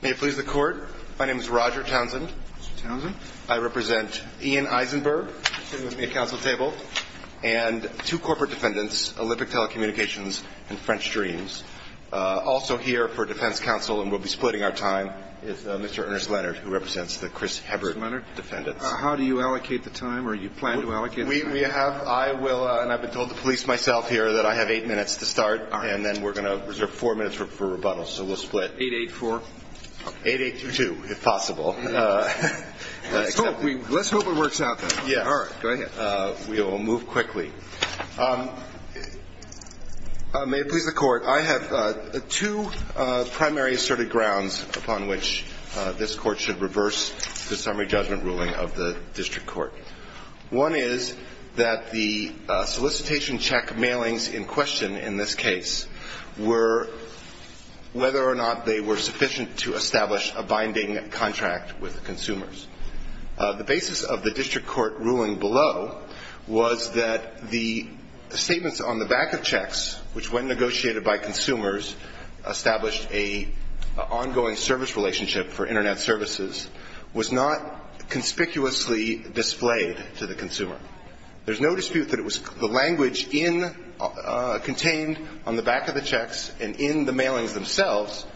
May it please the Court, my name is Roger Townsend. Mr. Townsend. I represent Ian Eisenberg, sitting at a counsel table, and two corporate defendants, Olympic Telecommunications and French Dreams. Also here for defense counsel, and we'll be splitting our time, is Mr. Ernest Leonard, who represents the Chris Hebert defendants. Mr. Leonard, how do you allocate the time, or do you plan to allocate the time? We have, I will, and I've been told to police myself here that I have eight minutes to start, and then we're going to reserve four minutes for rebuttal, so we'll split. 8-8-4? 8-8-2-2, if possible. Let's hope it works out then. Yeah. All right. Go ahead. We will move quickly. May it please the Court, I have two primary asserted grounds upon which this Court should reverse the summary judgment ruling of the district court. One is that the solicitation check mailings in question in this case were whether or not they were sufficient to establish a binding contract with consumers. The basis of the district court ruling below was that the statements on the back of checks, which when negotiated by consumers, established an ongoing service relationship for Internet services, was not conspicuously displayed to the consumer. There's no dispute that it was the language in the – contained on the back of the checks and in the mailings themselves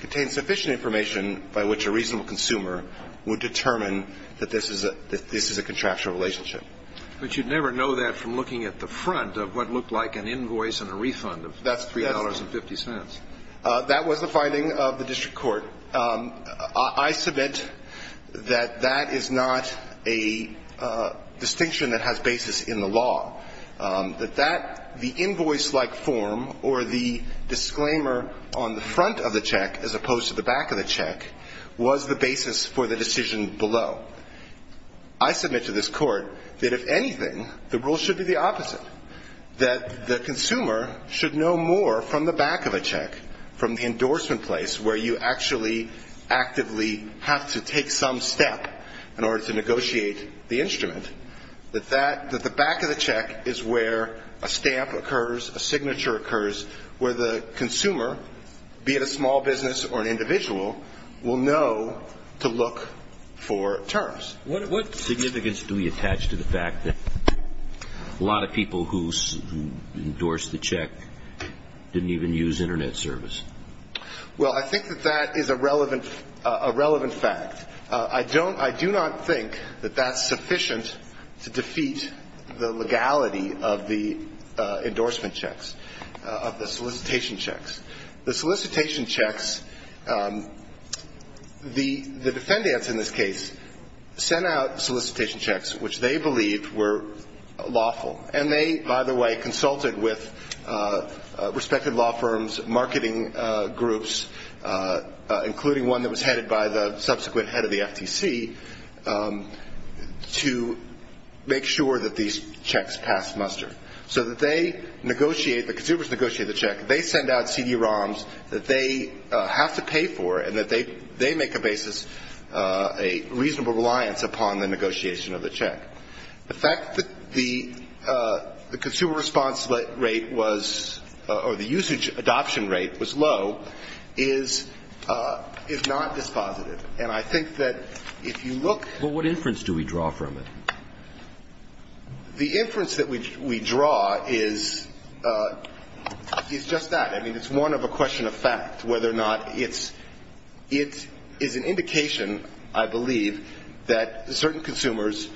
contained sufficient information by which a reasonable consumer would determine that this is a – that this is a contractual relationship. But you'd never know that from looking at the front of what looked like an invoice and a refund of $3.50. That was the finding of the district court. I submit that that is not a distinction that has basis in the law, that that – the invoice-like form or the disclaimer on the front of the check as opposed to the back of the check was the basis for the decision below. I submit to this Court that if anything, the rule should be the opposite, that the consumer should know more from the back of a check from the endorsement place where you actually actively have to take some step in order to negotiate the instrument, that that – that the back of the check is where a stamp occurs, a signature occurs, where the consumer, be it a small business or an individual, will know to look for terms. What significance do we attach to the fact that a lot of people who endorsed the check didn't even use Internet service? Well, I think that that is a relevant – a relevant fact. I don't – I do not think that that's sufficient to defeat the legality of the endorsement checks, of the solicitation checks. The solicitation checks – the defendants in this case sent out solicitation checks which they believed were lawful. And they, by the way, consulted with respected law firms, marketing groups, including one that was headed by the subsequent head of the FTC, to make sure that these checks passed muster. So that they negotiate – the consumers negotiate the check, they send out CD-ROMs that they have to pay for and that they make a basis, a reasonable reliance upon the negotiation of the check. The fact that the consumer response rate was – or the usage adoption rate was low is not dispositive. And I think that if you look at – Well, what inference do we draw from it? The inference that we draw is – is just that. I mean, it's one of a question of fact, whether or not it's – it is an indication, I believe, that certain consumers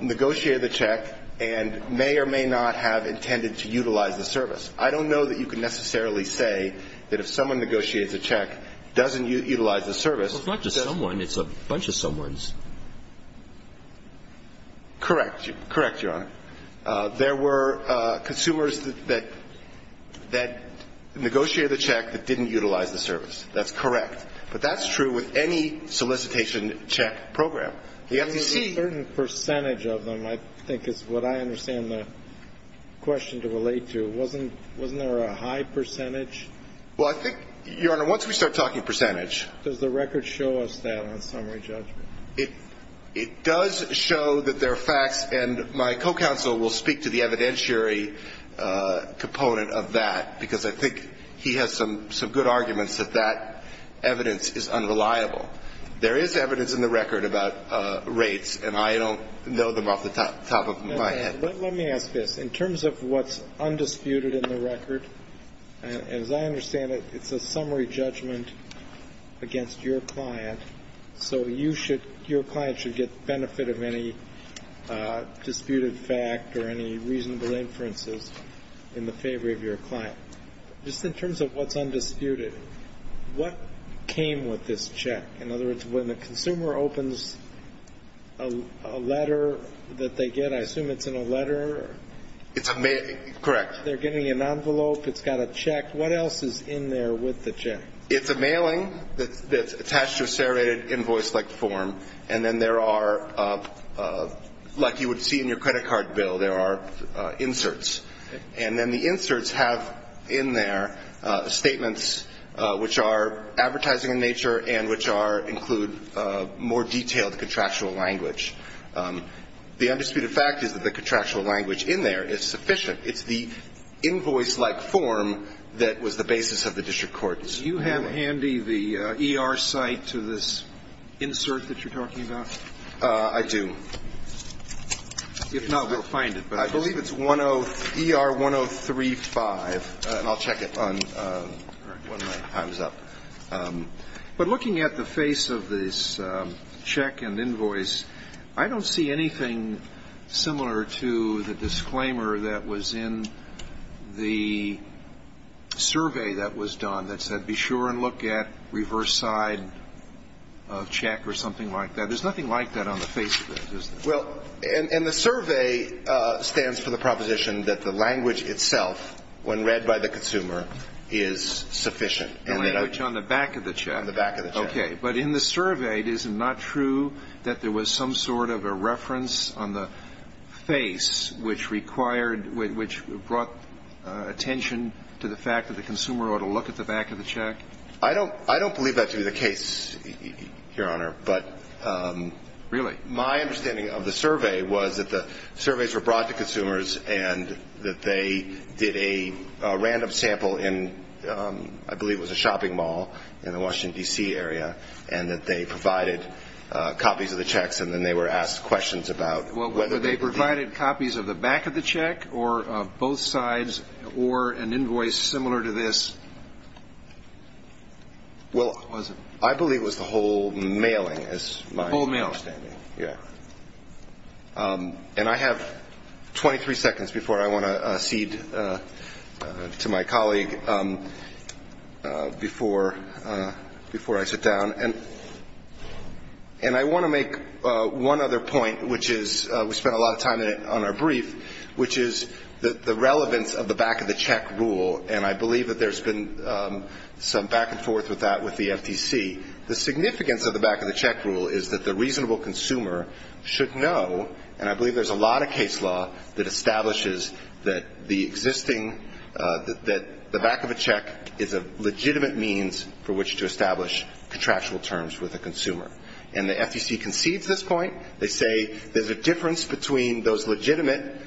negotiate the check and may or may not have intended to utilize the service. I don't know that you can necessarily say that if someone negotiates a check, doesn't utilize the service – Well, it's not just someone. It's a bunch of someone's. Correct. Correct, Your Honor. There were consumers that negotiated the check that didn't utilize the service. That's correct. But that's true with any solicitation check program. The FTC – There's a certain percentage of them, I think, is what I understand the question to relate to. Wasn't there a high percentage? Well, I think, Your Honor, once we start talking percentage – It does show that there are facts, and my co-counsel will speak to the evidentiary component of that, because I think he has some good arguments that that evidence is unreliable. There is evidence in the record about rates, and I don't know them off the top of my head. Let me ask this. In terms of what's undisputed in the record, as I understand it, it's a summary judgment against your client, so your client should get the benefit of any disputed fact or any reasonable inferences in the favor of your client. Just in terms of what's undisputed, what came with this check? In other words, when the consumer opens a letter that they get, I assume it's in a letter. Correct. They're getting an envelope. It's got a check. What else is in there with the check? It's a mailing that's attached to a serrated invoice-like form, and then there are, like you would see in your credit card bill, there are inserts. And then the inserts have in there statements which are advertising in nature and which include more detailed contractual language. The undisputed fact is that the contractual language in there is sufficient. It's the invoice-like form that was the basis of the district court. Do you have handy the ER site to this insert that you're talking about? I do. If not, we'll find it. I believe it's ER 1035, and I'll check it when my time is up. But looking at the face of this check and invoice, I don't see anything similar to the disclaimer that was in the survey that was done that said be sure and look at reverse side of check or something like that. There's nothing like that on the face of it, is there? Well, and the survey stands for the proposition that the language itself, when read by the consumer, is sufficient. The language on the back of the check. On the back of the check. Okay. But in the survey, it is not true that there was some sort of a reference on the face which brought attention to the fact that the consumer ought to look at the back of the check? I don't believe that to be the case, Your Honor. Really? My understanding of the survey was that the surveys were brought to consumers and that they did a random sample in, I believe it was a shopping mall in the Washington, D.C. area, and that they provided copies of the checks, and then they were asked questions about whether they provided copies of the back of the check or both sides or an invoice similar to this. Well, I believe it was the whole mailing is my understanding. The whole mail. Yeah. And I have 23 seconds before I want to cede to my colleague before I sit down. And I want to make one other point, which is we spent a lot of time on our brief, which is the relevance of the back of the check rule, and I believe that there's been some back and forth with that with the FTC. The significance of the back of the check rule is that the reasonable consumer should know, and I believe there's a lot of case law that establishes that the existing, that the back of a check is a legitimate means for which to establish contractual terms with a consumer. And the FTC concedes this point. They say there's a difference between those legitimate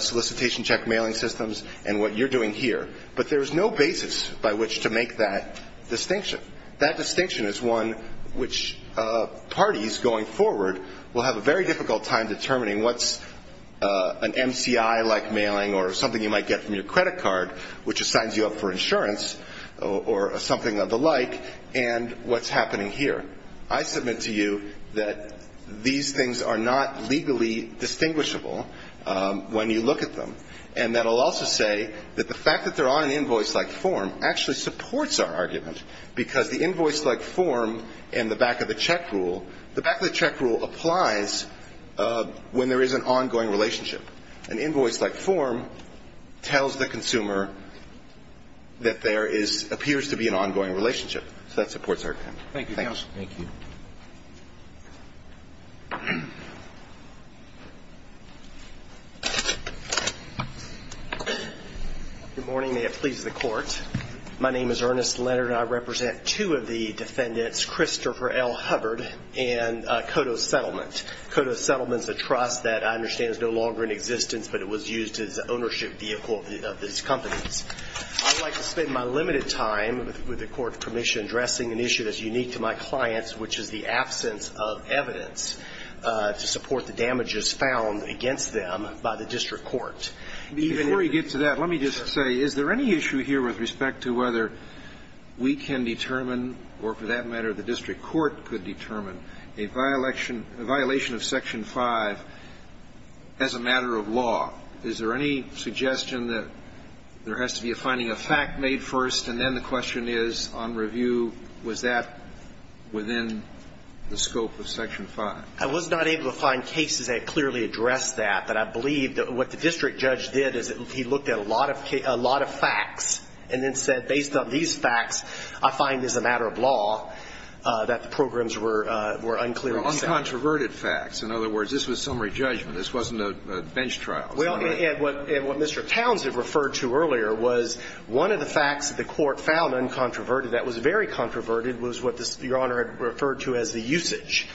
solicitation check mailing systems and what you're doing here, but there's no basis by which to make that distinction. That distinction is one which parties going forward will have a very difficult time determining what's an MCI-like mailing or something you might get from your credit card, which assigns you up for insurance or something of the like, and what's happening here. I submit to you that these things are not legally distinguishable when you look at them, and that I'll also say that the fact that they're on an invoice-like form actually supports our argument, because the invoice-like form and the back of the check rule, the back of the check rule applies when there is an ongoing relationship. An invoice-like form tells the consumer that there is, appears to be an ongoing relationship. So that supports our argument. Thank you, counsel. Thank you. Good morning. May it please the Court. My name is Ernest Leonard, and I represent two of the defendants, Christopher L. Hubbard and Kodos Settlement. Kodos Settlement is a trust that I understand is no longer in existence, but it was used as an ownership vehicle of these companies. I would like to spend my limited time, with the Court's permission, addressing an issue that's unique to my clients, which is the absence of evidence to support the damages found against them by the district court. Before we get to that, let me just say, is there any issue here with respect to whether we can determine, or for that matter the district court could determine, a violation of Section 5 as a matter of law? Is there any suggestion that there has to be a finding of fact made first, and then the question is, on review, was that within the scope of Section 5? I was not able to find cases that clearly address that. But I believe that what the district judge did is he looked at a lot of facts and then said, based on these facts, I find as a matter of law that the programs were unclear in the statute. Uncontroverted facts. In other words, this was summary judgment. This wasn't a bench trial. Well, and what Mr. Towns had referred to earlier was one of the facts that the Court found uncontroverted, that was very controverted, was what Your Honor had referred to as the usage.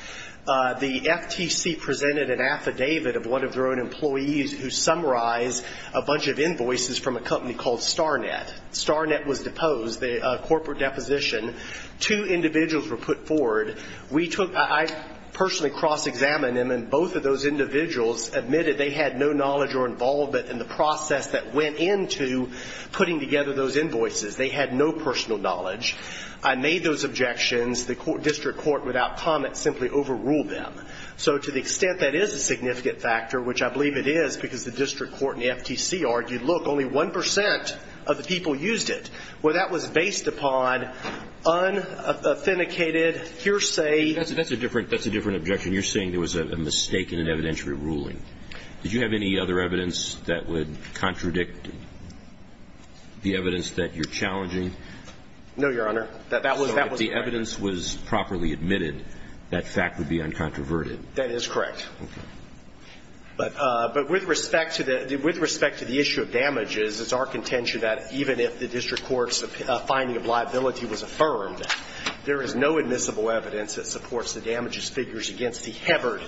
The FTC presented an affidavit of one of their own employees who summarized a bunch of invoices from a company called Starnet. Starnet was deposed, a corporate deposition. Two individuals were put forward. We took – I personally cross-examined them, and both of those individuals admitted they had no knowledge or involvement in the process that went into putting together those invoices. They had no personal knowledge. I made those objections. The district court, without comment, simply overruled them. So to the extent that is a significant factor, which I believe it is because the district court and the FTC argued, look, only 1 percent of the people used it. Well, that was based upon unauthenticated hearsay. That's a different objection. You're saying there was a mistake in an evidentiary ruling. Did you have any other evidence that would contradict the evidence that you're challenging? No, Your Honor. That was correct. So if the evidence was properly admitted, that fact would be uncontroverted. That is correct. Okay. But with respect to the issue of damages, it's our contention that even if the district court's finding of liability was affirmed, there is no admissible evidence that supports the damages figures against the Hebbard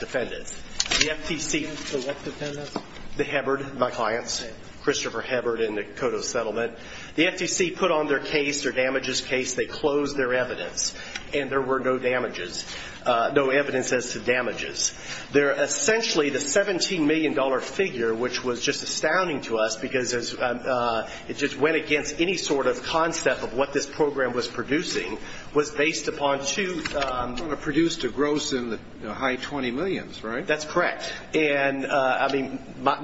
defendants. The FTC – The what defendants? The Hebbard, my clients, Christopher Hebbard and the Cotto settlement. The FTC put on their case, their damages case, they closed their evidence, and there were no damages, no evidence as to damages. They're essentially the $17 million figure, which was just astounding to us because it just went against any sort of concept of what this program was producing, was based upon two – Produced a gross in the high 20 millions, right? That's correct. And, I mean,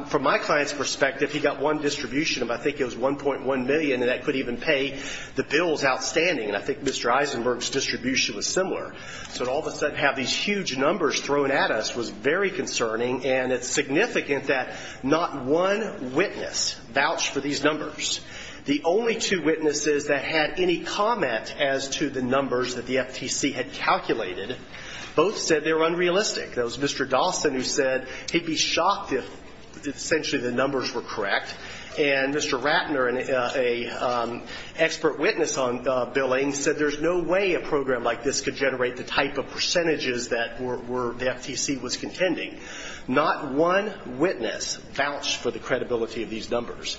from my client's perspective, I think if he got one distribution, I think it was 1.1 million, and that could even pay the bills outstanding. And I think Mr. Eisenberg's distribution was similar. So to all of a sudden have these huge numbers thrown at us was very concerning, and it's significant that not one witness vouched for these numbers. The only two witnesses that had any comment as to the numbers that the FTC had calculated both said they were unrealistic. That was Mr. Dawson who said he'd be shocked if essentially the numbers were correct, and Mr. Ratner, an expert witness on billing, said there's no way a program like this could generate the type of percentages that the FTC was contending. Not one witness vouched for the credibility of these numbers.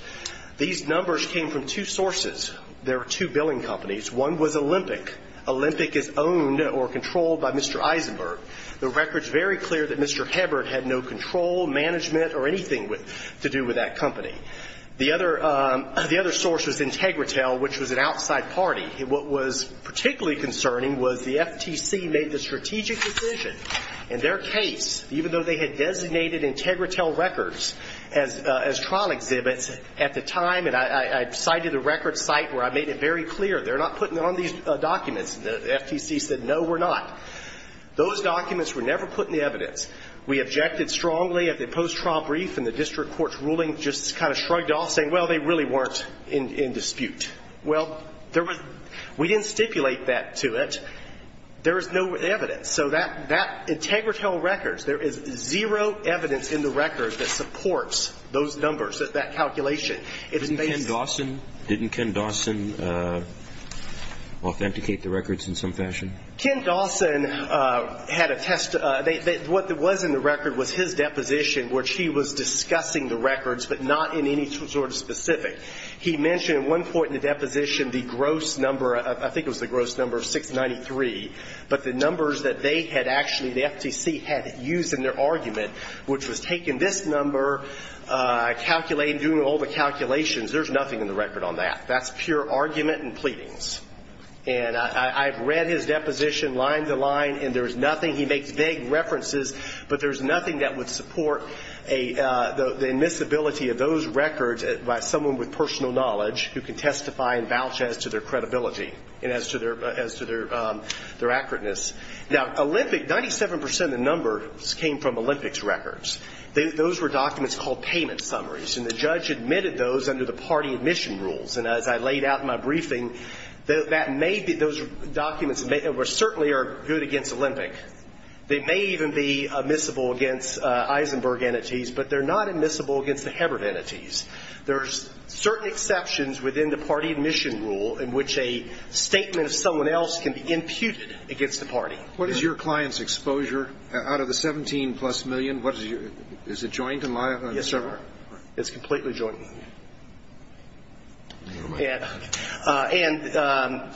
These numbers came from two sources. There were two billing companies. One was Olympic. Olympic is owned or controlled by Mr. Eisenberg. The record's very clear that Mr. Hebert had no control, management, or anything to do with that company. The other source was Integritel, which was an outside party. What was particularly concerning was the FTC made the strategic decision in their case, even though they had designated Integritel records as trial exhibits at the time, and I cited a record site where I made it very clear they're not putting on these documents. The FTC said, no, we're not. Those documents were never put in the evidence. We objected strongly at the post-trial brief, and the district court's ruling just kind of shrugged off saying, well, they really weren't in dispute. Well, we didn't stipulate that to it. There is no evidence. So that Integritel records, there is zero evidence in the records that supports those numbers, that calculation. Didn't Ken Dawson authenticate the records in some fashion? Ken Dawson had a test. What was in the record was his deposition, which he was discussing the records, but not in any sort of specific. He mentioned at one point in the deposition the gross number of, I think it was the gross number of 693, but the numbers that they had actually, the FTC had used in their argument, which was taking this number, calculating, doing all the calculations, there's nothing in the record on that. That's pure argument and pleadings. And I've read his deposition line to line, and there's nothing, he makes vague references, but there's nothing that would support the admissibility of those records by someone with personal knowledge who can testify and vouch as to their credibility and as to their accurateness. Now, Olympic, 97 percent of the numbers came from Olympic's records. Those were documents called payment summaries, and the judge admitted those under the party admission rules. And as I laid out in my briefing, that may be, those documents certainly are good against Olympic. They may even be admissible against Eisenberg entities, but they're not admissible against the Hebert entities. There's certain exceptions within the party admission rule in which a statement of someone else can be imputed against a party. What is your client's exposure? Out of the 17-plus million, what is your, is it joint? Yes, sir. It's completely joint. Never mind. And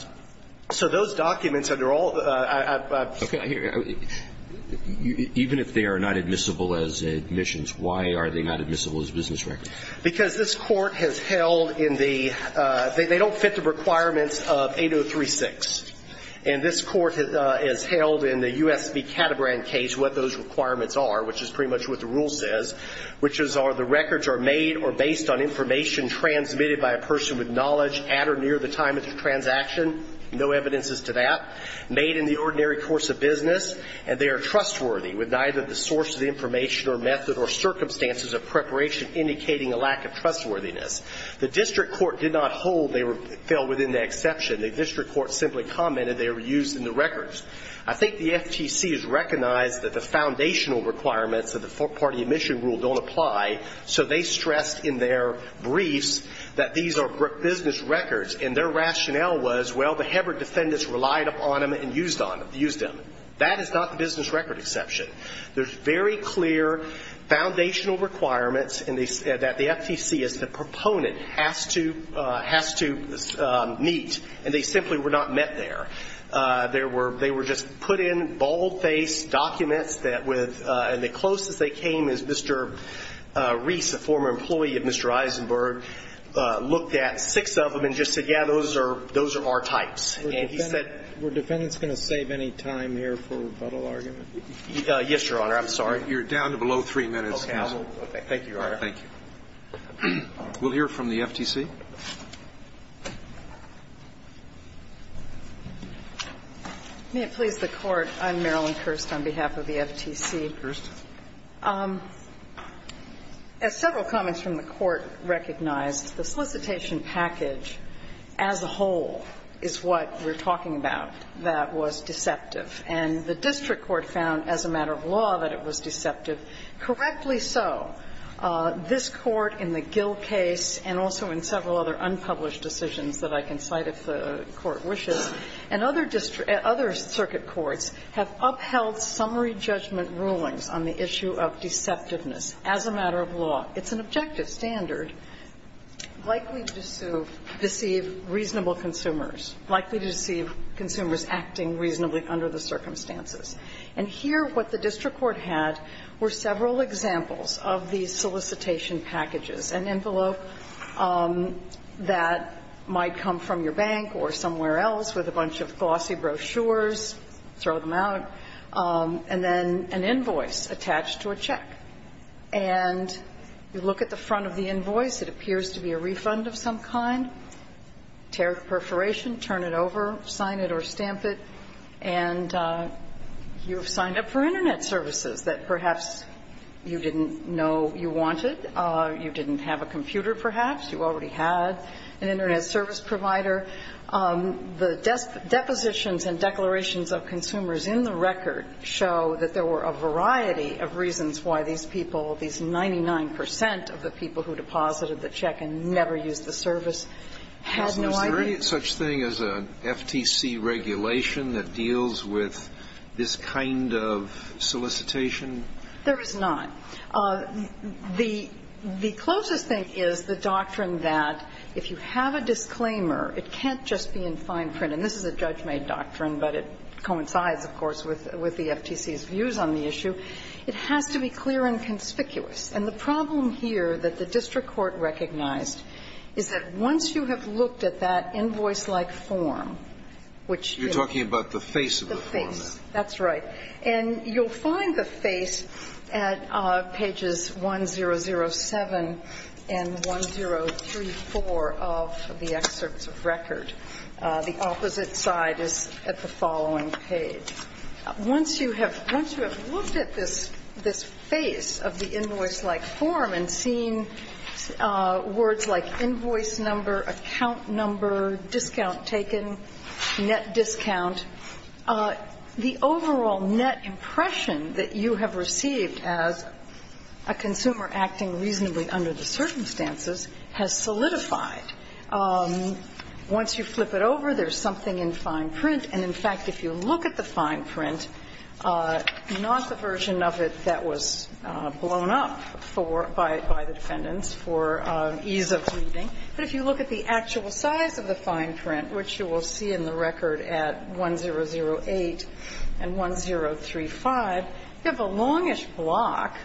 so those documents under all of the ‑‑ Okay, I hear you. Even if they are not admissible as admissions, why are they not admissible as business records? Because this Court has held in the, they don't fit the requirements of 8036. And this Court has held in the U.S. v. Caterbrand case what those requirements are, which is pretty much what the rule says, which is the records are made or based on information transmitted by a person with knowledge at or near the time of the transaction. No evidence as to that. Made in the ordinary course of business. And they are trustworthy with neither the source of the information or method or circumstances of preparation indicating a lack of trustworthiness. The district court did not hold they fell within the exception. The district court simply commented they were used in the records. I think the FTC has recognized that the foundational requirements of the four-party admission rule don't apply, so they stressed in their briefs that these are business records. And their rationale was, well, the Hebert defendants relied upon them and used them. That is not the business record exception. There's very clear foundational requirements that the FTC as the proponent has to meet, and they simply were not met there. They were just put in bald-faced documents that with the closest they came is Mr. Reese, a former employee of Mr. Eisenberg, looked at six of them and just said, yeah, those are our types. And he said we're defendants going to save any time here for rebuttal argument? Yes, Your Honor. I'm sorry. You're down to below three minutes. Okay. Thank you, Your Honor. Thank you. We'll hear from the FTC. May it please the Court. I'm Marilyn Kirst on behalf of the FTC. Kirst. As several comments from the Court recognized, the solicitation package as a whole is what we're talking about that was deceptive. And the district court found as a matter of law that it was deceptive. Correctly so. This Court in the Gill case, and also in several other unpublished decisions that I can cite if the Court wishes, and other circuit courts have upheld summary judgment rulings on the issue of deceptiveness as a matter of law. It's an objective standard likely to deceive reasonable consumers, likely to deceive consumers acting reasonably under the circumstances. And here what the district court had were several examples of these solicitation packages, an envelope that might come from your bank or somewhere else with a bunch of glossy brochures, throw them out, and then an invoice attached to a check. And you look at the front of the invoice, it appears to be a refund of some kind, tear perforation, turn it over, sign it or stamp it, and you have signed up for Internet services that perhaps you didn't know you wanted. You didn't have a computer, perhaps. You already had an Internet service provider. The depositions and declarations of consumers in the record show that there were a variety of reasons why these people, these 99 percent of the people who deposited the check and never used the service, had no idea. Alito Is there any such thing as an FTC regulation that deals with this kind of solicitation? There is not. The closest thing is the doctrine that if you have a disclaimer, it can't just be in fine print, and this is a judge-made doctrine, but it coincides, of course, with the FTC's views on the issue. It has to be clear and conspicuous. And the problem here that the district court recognized is that once you have looked at that invoice-like form, which is the face of the form, that's right, and you'll find the face at pages 1007 and 1034 of the excerpts of record. The opposite side is at the following page. Once you have looked at this face of the invoice-like form and seen words like invoice number, account number, discount taken, net discount, the overall net impression that you have received as a consumer acting reasonably under the circumstances has solidified. Once you flip it over, there's something in fine print. And, in fact, if you look at the fine print, not the version of it that was blown up for by the defendants for ease of reading, but if you look at the actual size of the fine print, which you will see in the record at 1008 and 1035, you have a longish block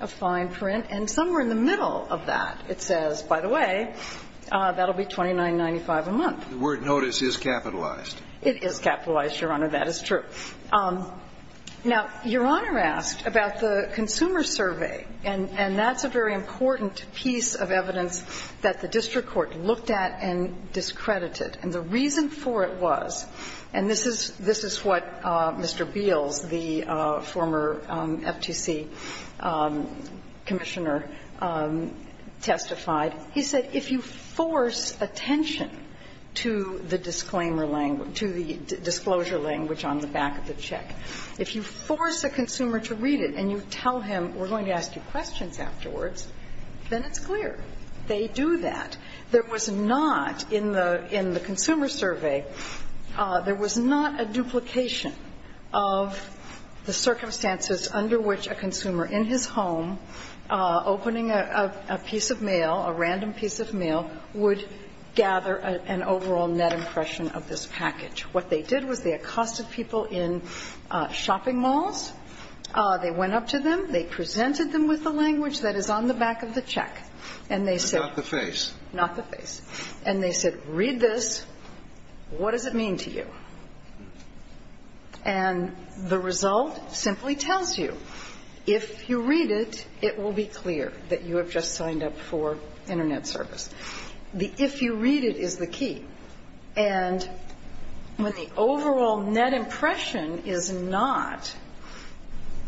of fine print, and somewhere in the middle of that it says, by the way, that will be $29.95 a month. The word notice is capitalized. It is capitalized, Your Honor. That is true. Now, Your Honor asked about the consumer survey, and that's a very important piece of evidence that the district court looked at and discredited. And the reason for it was, and this is what Mr. Beals, the former FTC commissioner, testified, is that if you force attention to the disclaimer language, to the disclosure language on the back of the check, if you force a consumer to read it and you tell him, we're going to ask you questions afterwards, then it's clear. They do that. There was not, in the consumer survey, there was not a duplication of the circumstances under which a consumer, in his home, opening a piece of mail, a random piece of mail, would gather an overall net impression of this package. What they did was they accosted people in shopping malls. They went up to them. They presented them with the language that is on the back of the check. And they said the face, not the face. And they said, read this. What does it mean to you? And the result simply tells you, if you read it, it will be clear that you have just signed up for Internet service. The if you read it is the key. And when the overall net impression is not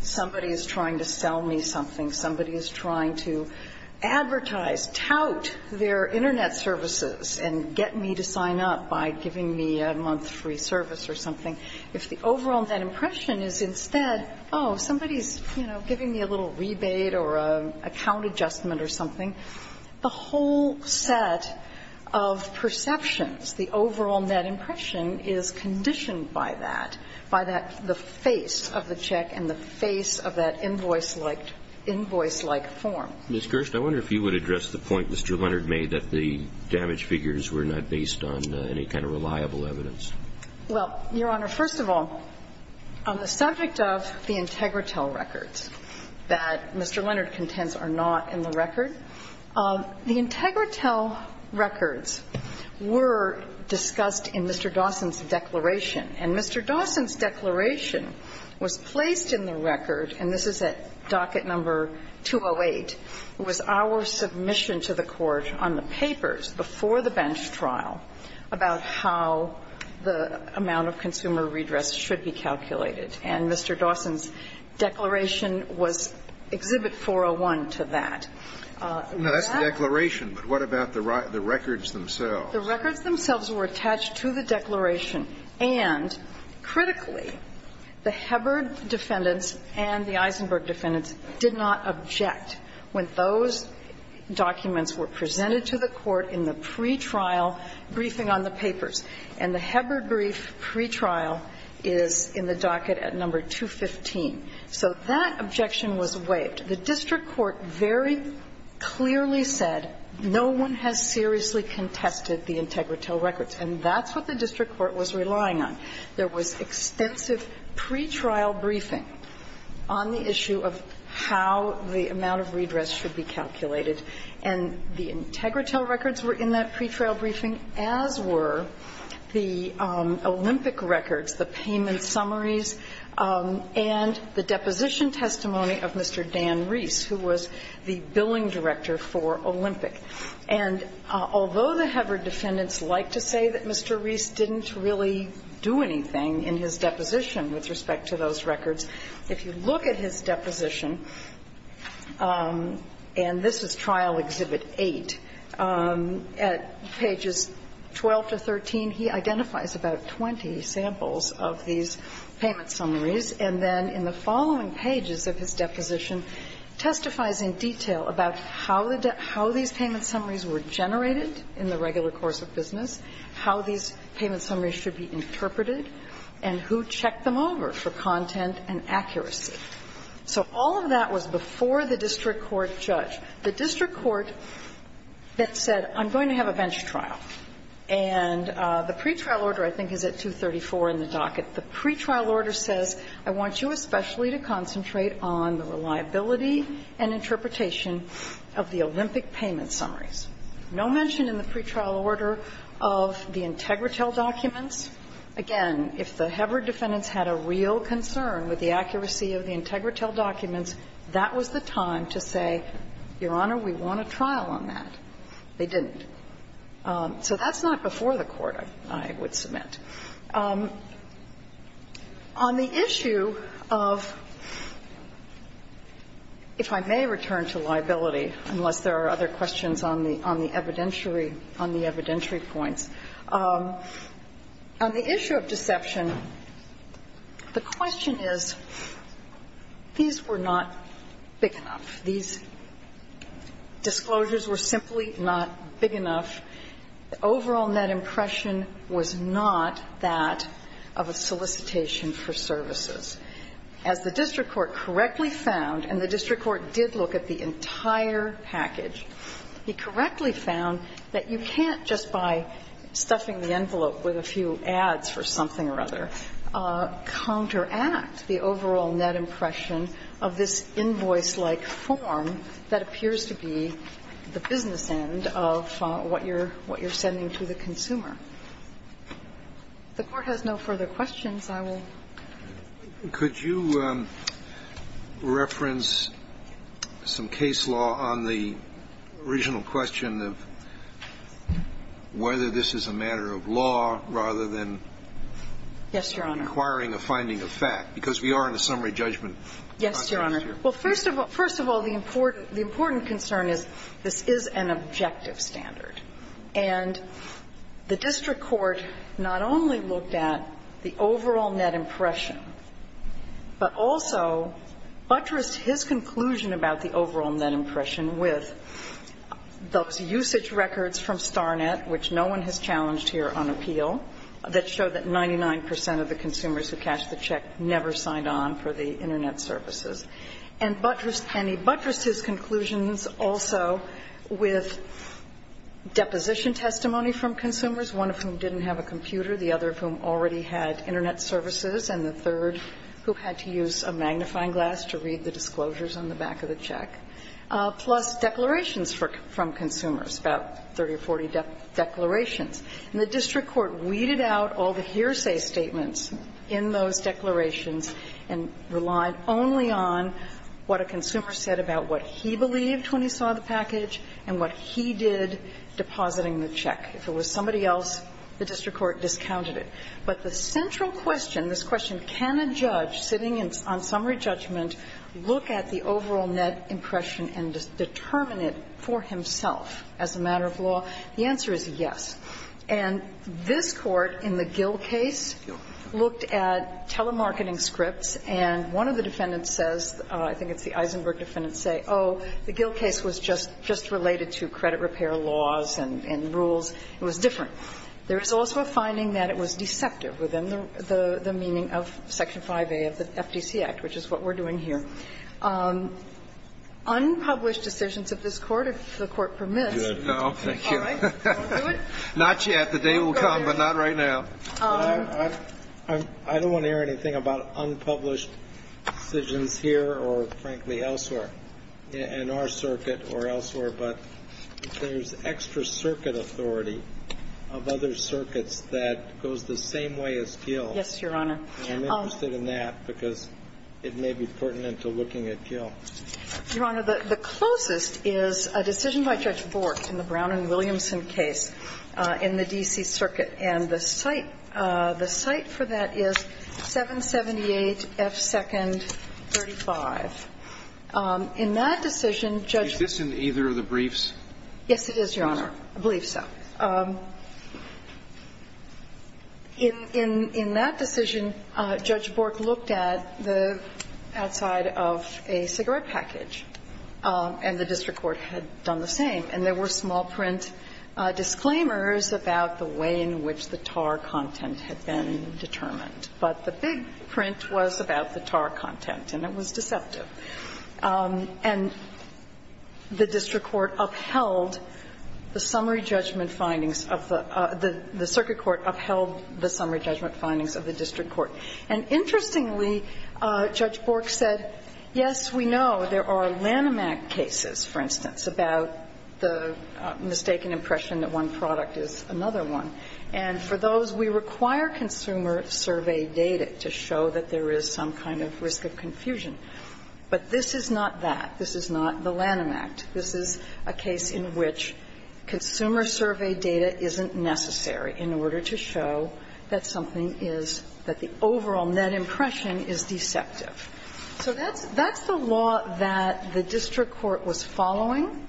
somebody is trying to sell me something, somebody is trying to advertise, tout their Internet services, and get me to sign up by giving me a month free service or something. If the overall net impression is instead, oh, somebody is, you know, giving me a little rebate or an account adjustment or something, the whole set of perceptions, the overall net impression, is conditioned by that, by the face of the check and the face of that invoice-like form. Ms. Gerst, I wonder if you would address the point Mr. Leonard made that the damage figures were not based on any kind of reliable evidence. Well, Your Honor, first of all, on the subject of the Integritel records that Mr. Leonard contends are not in the record, the Integritel records were discussed in Mr. Dawson's declaration. And Mr. Dawson's declaration was placed in the record, and this is at docket number 208, was our submission to the Court on the papers before the bench trial about how the amount of consumer redress should be calculated. And Mr. Dawson's declaration was Exhibit 401 to that. Now, that's the declaration, but what about the records themselves? The records themselves were attached to the declaration, and critically, the Hebbard defendants and the Eisenberg defendants did not object when those documents were presented to the Court in the pretrial briefing on the papers. And the Hebbard brief pretrial is in the docket at number 215. So that objection was waived. The district court very clearly said no one has seriously contested the Integritel records, and that's what the district court was relying on. There was extensive pretrial briefing on the issue of how the amount of redress should be calculated, and the Integritel records were in that pretrial briefing, as were the Olympic records, the payment summaries, and the deposition testimony of Mr. Dan Reese, who was the billing director for Olympic. And although the Hebbard defendants like to say that Mr. Reese didn't really do anything in his deposition with respect to those records, if you look at his deposition and this is Trial Exhibit 8, at pages 12 to 13, he identifies about 20 samples of these payment summaries, and then in the following pages of his deposition, testifies in detail about how the debt – how these payment summaries were used. How these payment summaries were generated in the regular course of business, how these payment summaries should be interpreted, and who checked them over for content and accuracy. So all of that was before the district court judge. The district court that said, I'm going to have a bench trial, and the pretrial order I think is at 234 in the docket. The pretrial order says, I want you especially to concentrate on the reliability and interpretation of the Olympic payment summaries. No mention in the pretrial order of the Integritel documents. Again, if the Hebbard defendants had a real concern with the accuracy of the Integritel documents, that was the time to say, Your Honor, we want a trial on that. They didn't. So that's not before the court, I would submit. On the issue of – if I may return to liability, unless there are other questions on the evidentiary – on the evidentiary points. On the issue of deception, the question is, these were not big enough. These disclosures were simply not big enough. The overall net impression was not that of a solicitation for services. As the district court correctly found, and the district court did look at the entire package, he correctly found that you can't just by stuffing the envelope with a few ads for something or other counteract the overall net impression of this invoice-like form that appears to be the business end of what you're trying to do. And that's not what you're – what you're sending to the consumer. If the Court has no further questions, I will go ahead. Kennedy, could you reference some case law on the original question of whether this is a matter of law rather than requiring a finding of fact? Because we are in a summary judgment. Yes, Your Honor. Well, first of all – first of all, the important concern is this is an objective standard. And the district court not only looked at the overall net impression, but also buttressed his conclusion about the overall net impression with those usage records from Starnet, which no one has challenged here on appeal, that show that 99 percent of the consumers who cashed the check never signed on for the Internet services, and buttressed his conclusions also with deposition testimony from consumers, one of whom didn't have a computer, the other of whom already had Internet services, and the third who had to use a magnifying glass to read the disclosures on the back of the check, plus declarations from consumers, about 30 or 40 declarations. And the district court weeded out all the hearsay statements in those declarations and relied only on what a consumer said about what he believed when he saw the package and what he did depositing the check. If it was somebody else, the district court discounted it. But the central question, this question, can a judge sitting on summary judgment look at the overall net impression and determine it for himself as a matter of law? The answer is yes. And this Court, in the Gill case, looked at telemarketing scripts, and one of the defendants says, I think it's the Eisenberg defendant, say, oh, the Gill case was just related to credit repair laws and rules, it was different. There is also a finding that it was deceptive within the meaning of Section 5A of the FTC Act, which is what we're doing here. Unpublished decisions of this Court, if the Court permits. Thank you. Not yet. The day will come, but not right now. I don't want to hear anything about unpublished decisions here or, frankly, elsewhere, in our circuit or elsewhere, but there's extra circuit authority of other circuits that goes the same way as Gill. Yes, Your Honor. And I'm interested in that because it may be pertinent to looking at Gill. Your Honor, the closest is a decision by Judge Bork in the Brown v. Williamson case in the D.C. Circuit, and the cite for that is 778 F. 2nd, 35. In that decision, Judge Bork. Is this in either of the briefs? Yes, it is, Your Honor. I believe so. In that decision, Judge Bork looked at the outside of a cigarette package, and the district court had done the same. And there were small print disclaimers about the way in which the tar content had been determined. But the big print was about the tar content, and it was deceptive. And the district court upheld the summary judgment findings of the circuit court upheld the summary judgment findings of the district court. And interestingly, Judge Bork said, yes, we know there are Lanham Act cases, for instance, about the mistaken impression that one product is another one. And for those, we require consumer survey data to show that there is some kind of risk of confusion. But this is not that. This is not the Lanham Act. This is a case in which consumer survey data isn't necessary in order to show that something is, that the overall net impression is deceptive. So that's the law that the district court was following,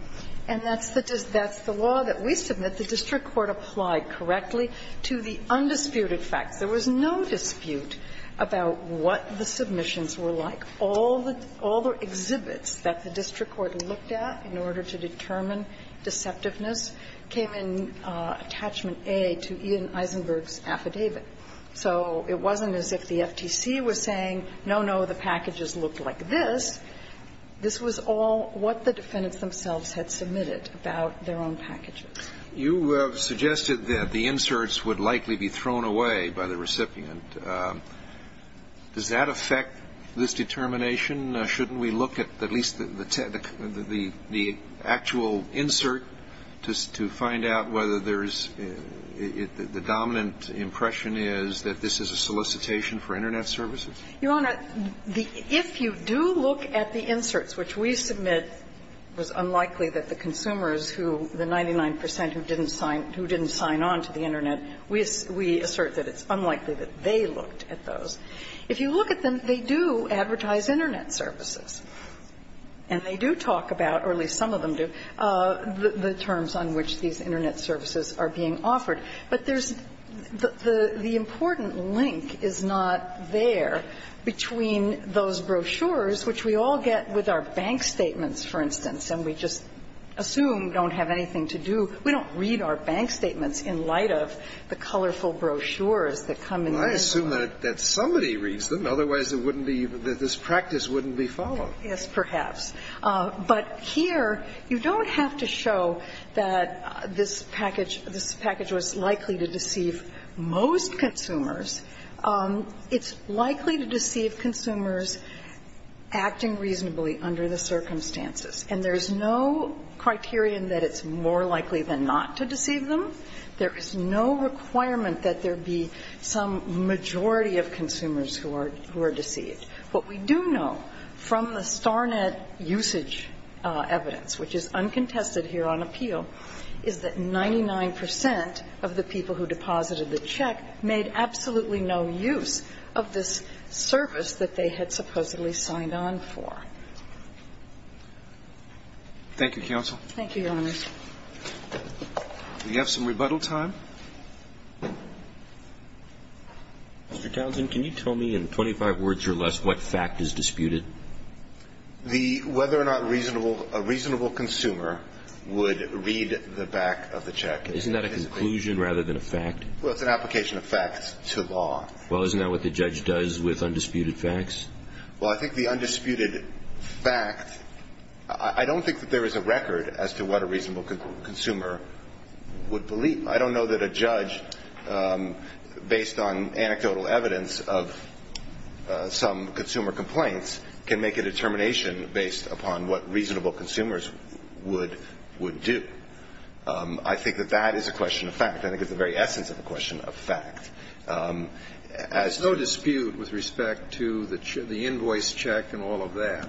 and that's the law that we submit the district court applied correctly to the undisputed facts. There was no dispute about what the submissions were like. All the exhibits that the district court looked at in order to determine deceptiveness came in attachment A to Ian Eisenberg's affidavit. So it wasn't as if the FTC was saying, no, no, the packages looked like this. This was all what the defendants themselves had submitted about their own packages. You have suggested that the inserts would likely be thrown away by the recipient. Does that affect this determination? Shouldn't we look at at least the actual insert to find out whether there is the dominant impression is that this is a solicitation for Internet services? Your Honor, if you do look at the inserts, which we submit was unlikely that the consumers who, the 99 percent who didn't sign on to the Internet, we assert that it's unlikely that they looked at those. If you look at them, they do advertise Internet services. And they do talk about, or at least some of them do, the terms on which these Internet services are being offered. But there's, the important link is not there between those brochures, which we all get with our bank statements, for instance, and we just assume don't have anything to do. We don't read our bank statements in light of the colorful brochures that come in this way. Scalia, I assume that somebody reads them. Otherwise, it wouldn't be, this practice wouldn't be followed. Yes, perhaps. But here, you don't have to show that this package, this package was likely to deceive most consumers. It's likely to deceive consumers acting reasonably under the circumstances. And there's no criterion that it's more likely than not to deceive them. There is no requirement that there be some majority of consumers who are deceived. What we do know from the StarNet usage evidence, which is uncontested here on appeal, is that 99 percent of the people who deposited the check made absolutely no use of this service that they had supposedly signed on for. Thank you, counsel. Thank you, Your Honor. Do we have some rebuttal time? Mr. Townsend, can you tell me in 25 words or less what fact is disputed? The whether or not reasonable, a reasonable consumer would read the back of the check. Isn't that a conclusion rather than a fact? Well, it's an application of fact to law. Well, isn't that what the judge does with undisputed facts? Well, I think the undisputed fact, I don't think that there is a record as to what a reasonable consumer would believe. I don't know that a judge, based on anecdotal evidence of some consumer complaints, can make a determination based upon what reasonable consumers would do. I think that that is a question of fact. I think it's the very essence of a question of fact. There's no dispute with respect to the invoice check and all of that.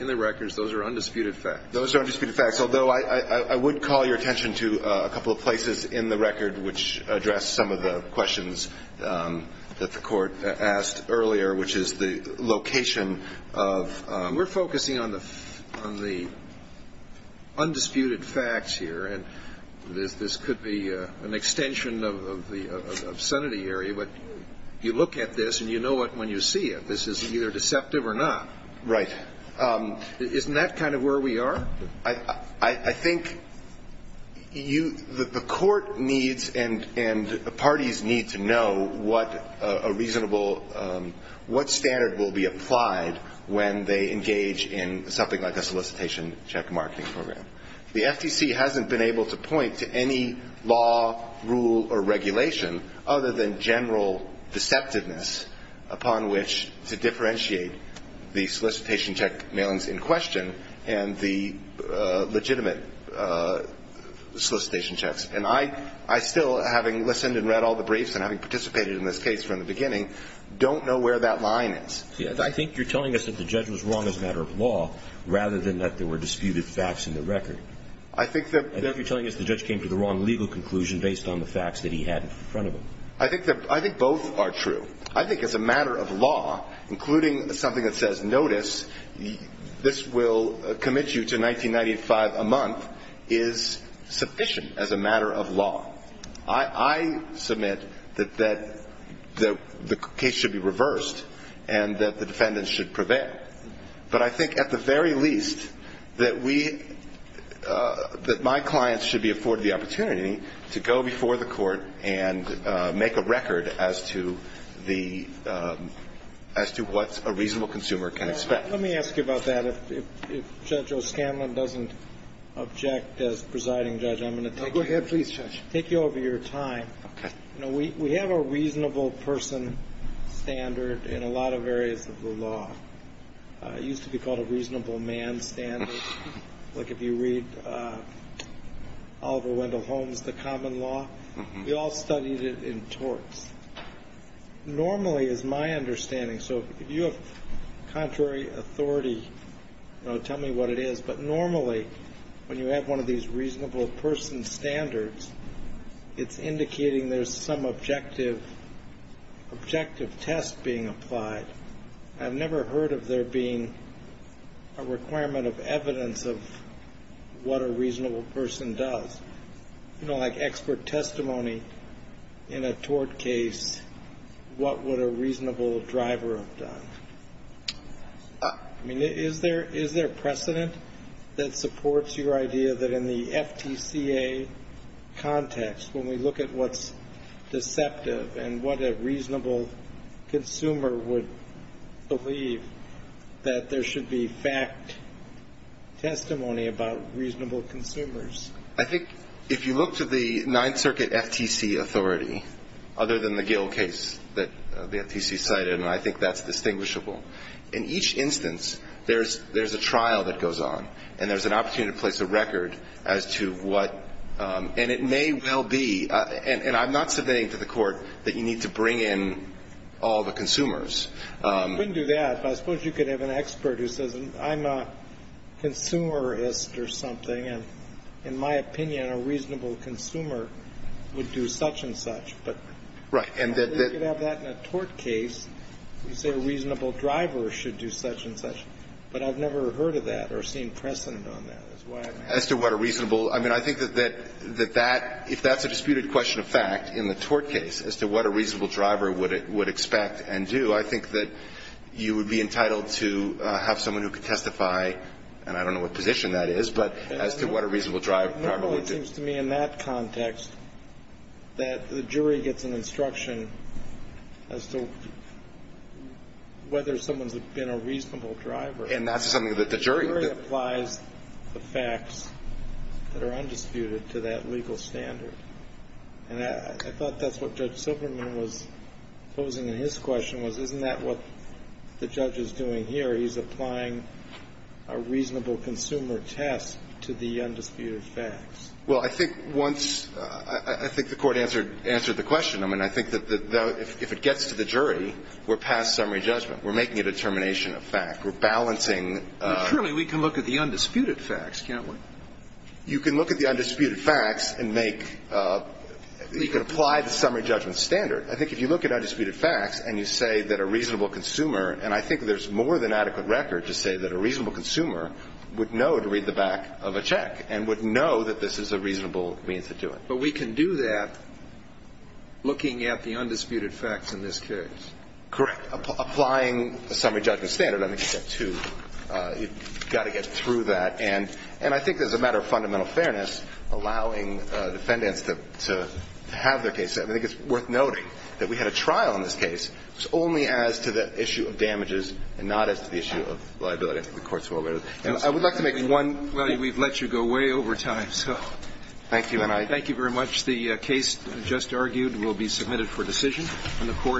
In the records, those are undisputed facts. Those are undisputed facts. Although I would call your attention to a couple of places in the record which address some of the questions that the Court asked earlier, which is the location of the We're focusing on the undisputed facts here. And this could be an extension of the obscenity area. But you look at this and you know it when you see it. This is either deceptive or not. Right. Isn't that kind of where we are? I think you the Court needs and parties need to know what a reasonable what standard will be applied when they engage in something like a solicitation check marketing program. The FTC hasn't been able to point to any law, rule, or regulation other than general deceptiveness upon which to differentiate the solicitation check mailings in question and the legitimate solicitation checks. And I still, having listened and read all the briefs and having participated in this case from the beginning, don't know where that line is. I think you're telling us that the judge was wrong as a matter of law rather than that there were disputed facts in the record. I think that I think you're telling us the judge came to the wrong legal conclusion based on the facts that he had in front of him. I think both are true. I think as a matter of law, including something that says, notice, this will commit you to $19.95 a month, is sufficient as a matter of law. I submit that the case should be reversed and that the defendants should prevail. But I think at the very least that we, that my clients should be afforded the opportunity to go before the court and make a record as to what a reasonable consumer can expect. Let me ask you about that. If Judge O'Scanlan doesn't object as presiding judge, I'm going to take you over your time. Go ahead, please, Judge. We have a reasonable person standard in a lot of areas of the law. It used to be called a reasonable man standard. Like if you read Oliver Wendell Holmes' The Common Law, we all studied it in torts. Normally, is my understanding, so if you have contrary authority, tell me what it is, but normally when you have one of these reasonable person standards, it's indicating there's some objective test being applied. I've never heard of there being a requirement of evidence of what a reasonable person does. You know, like expert testimony in a tort case, what would a reasonable driver have done? I mean, is there precedent that supports your idea that in the FTCA context, when we look at what's deceptive and what a reasonable consumer would believe, that there should be fact testimony about reasonable consumers? I think if you look to the Ninth Circuit FTC authority, other than the Gill case that the FTC cited, and I think that's distinguishable, in each instance there's a trial that goes on and there's an opportunity to place a record as to what And it may well be, and I'm not submitting to the Court that you need to bring in all the consumers. I couldn't do that, but I suppose you could have an expert who says, I'm a consumerist or something, and in my opinion, a reasonable consumer would do such and such. Right. And they could have that in a tort case. You say a reasonable driver should do such and such. But I've never heard of that or seen precedent on that. As to what a reasonable, I mean, I think that that, if that's a disputed question of fact in the tort case, as to what a reasonable driver would expect and do, I think that you would be entitled to have someone who could testify, and I don't know what position that is, but as to what a reasonable driver would do. It seems to me in that context that the jury gets an instruction as to whether someone's been a reasonable driver. And that's something that the jury can do. The jury applies the facts that are undisputed to that legal standard. And I thought that's what Judge Silberman was posing in his question was, isn't that what the judge is doing here? He's applying a reasonable consumer test to the undisputed facts. Well, I think once the Court answered the question, I mean, I think that if it gets to the jury, we're past summary judgment. We're making a determination of fact. We're balancing. Currently, we can look at the undisputed facts, can't we? You can look at the undisputed facts and make, you can apply the summary judgment standard. I think if you look at undisputed facts and you say that a reasonable consumer, and I think there's more than adequate record to say that a reasonable consumer would know to read the back of a check and would know that this is a reasonable means to do it. But we can do that looking at the undisputed facts in this case. Correct. Applying a summary judgment standard, I think, is step two. You've got to get through that. And I think as a matter of fundamental fairness, allowing defendants to have their case set, I think it's worth noting that we had a trial on this case. It's only as to the issue of damages and not as to the issue of liability. I think the Court's well aware of that. And I would like to make one point. Well, we've let you go way over time, so. Thank you. And I thank you very much. The case just argued will be submitted for decision.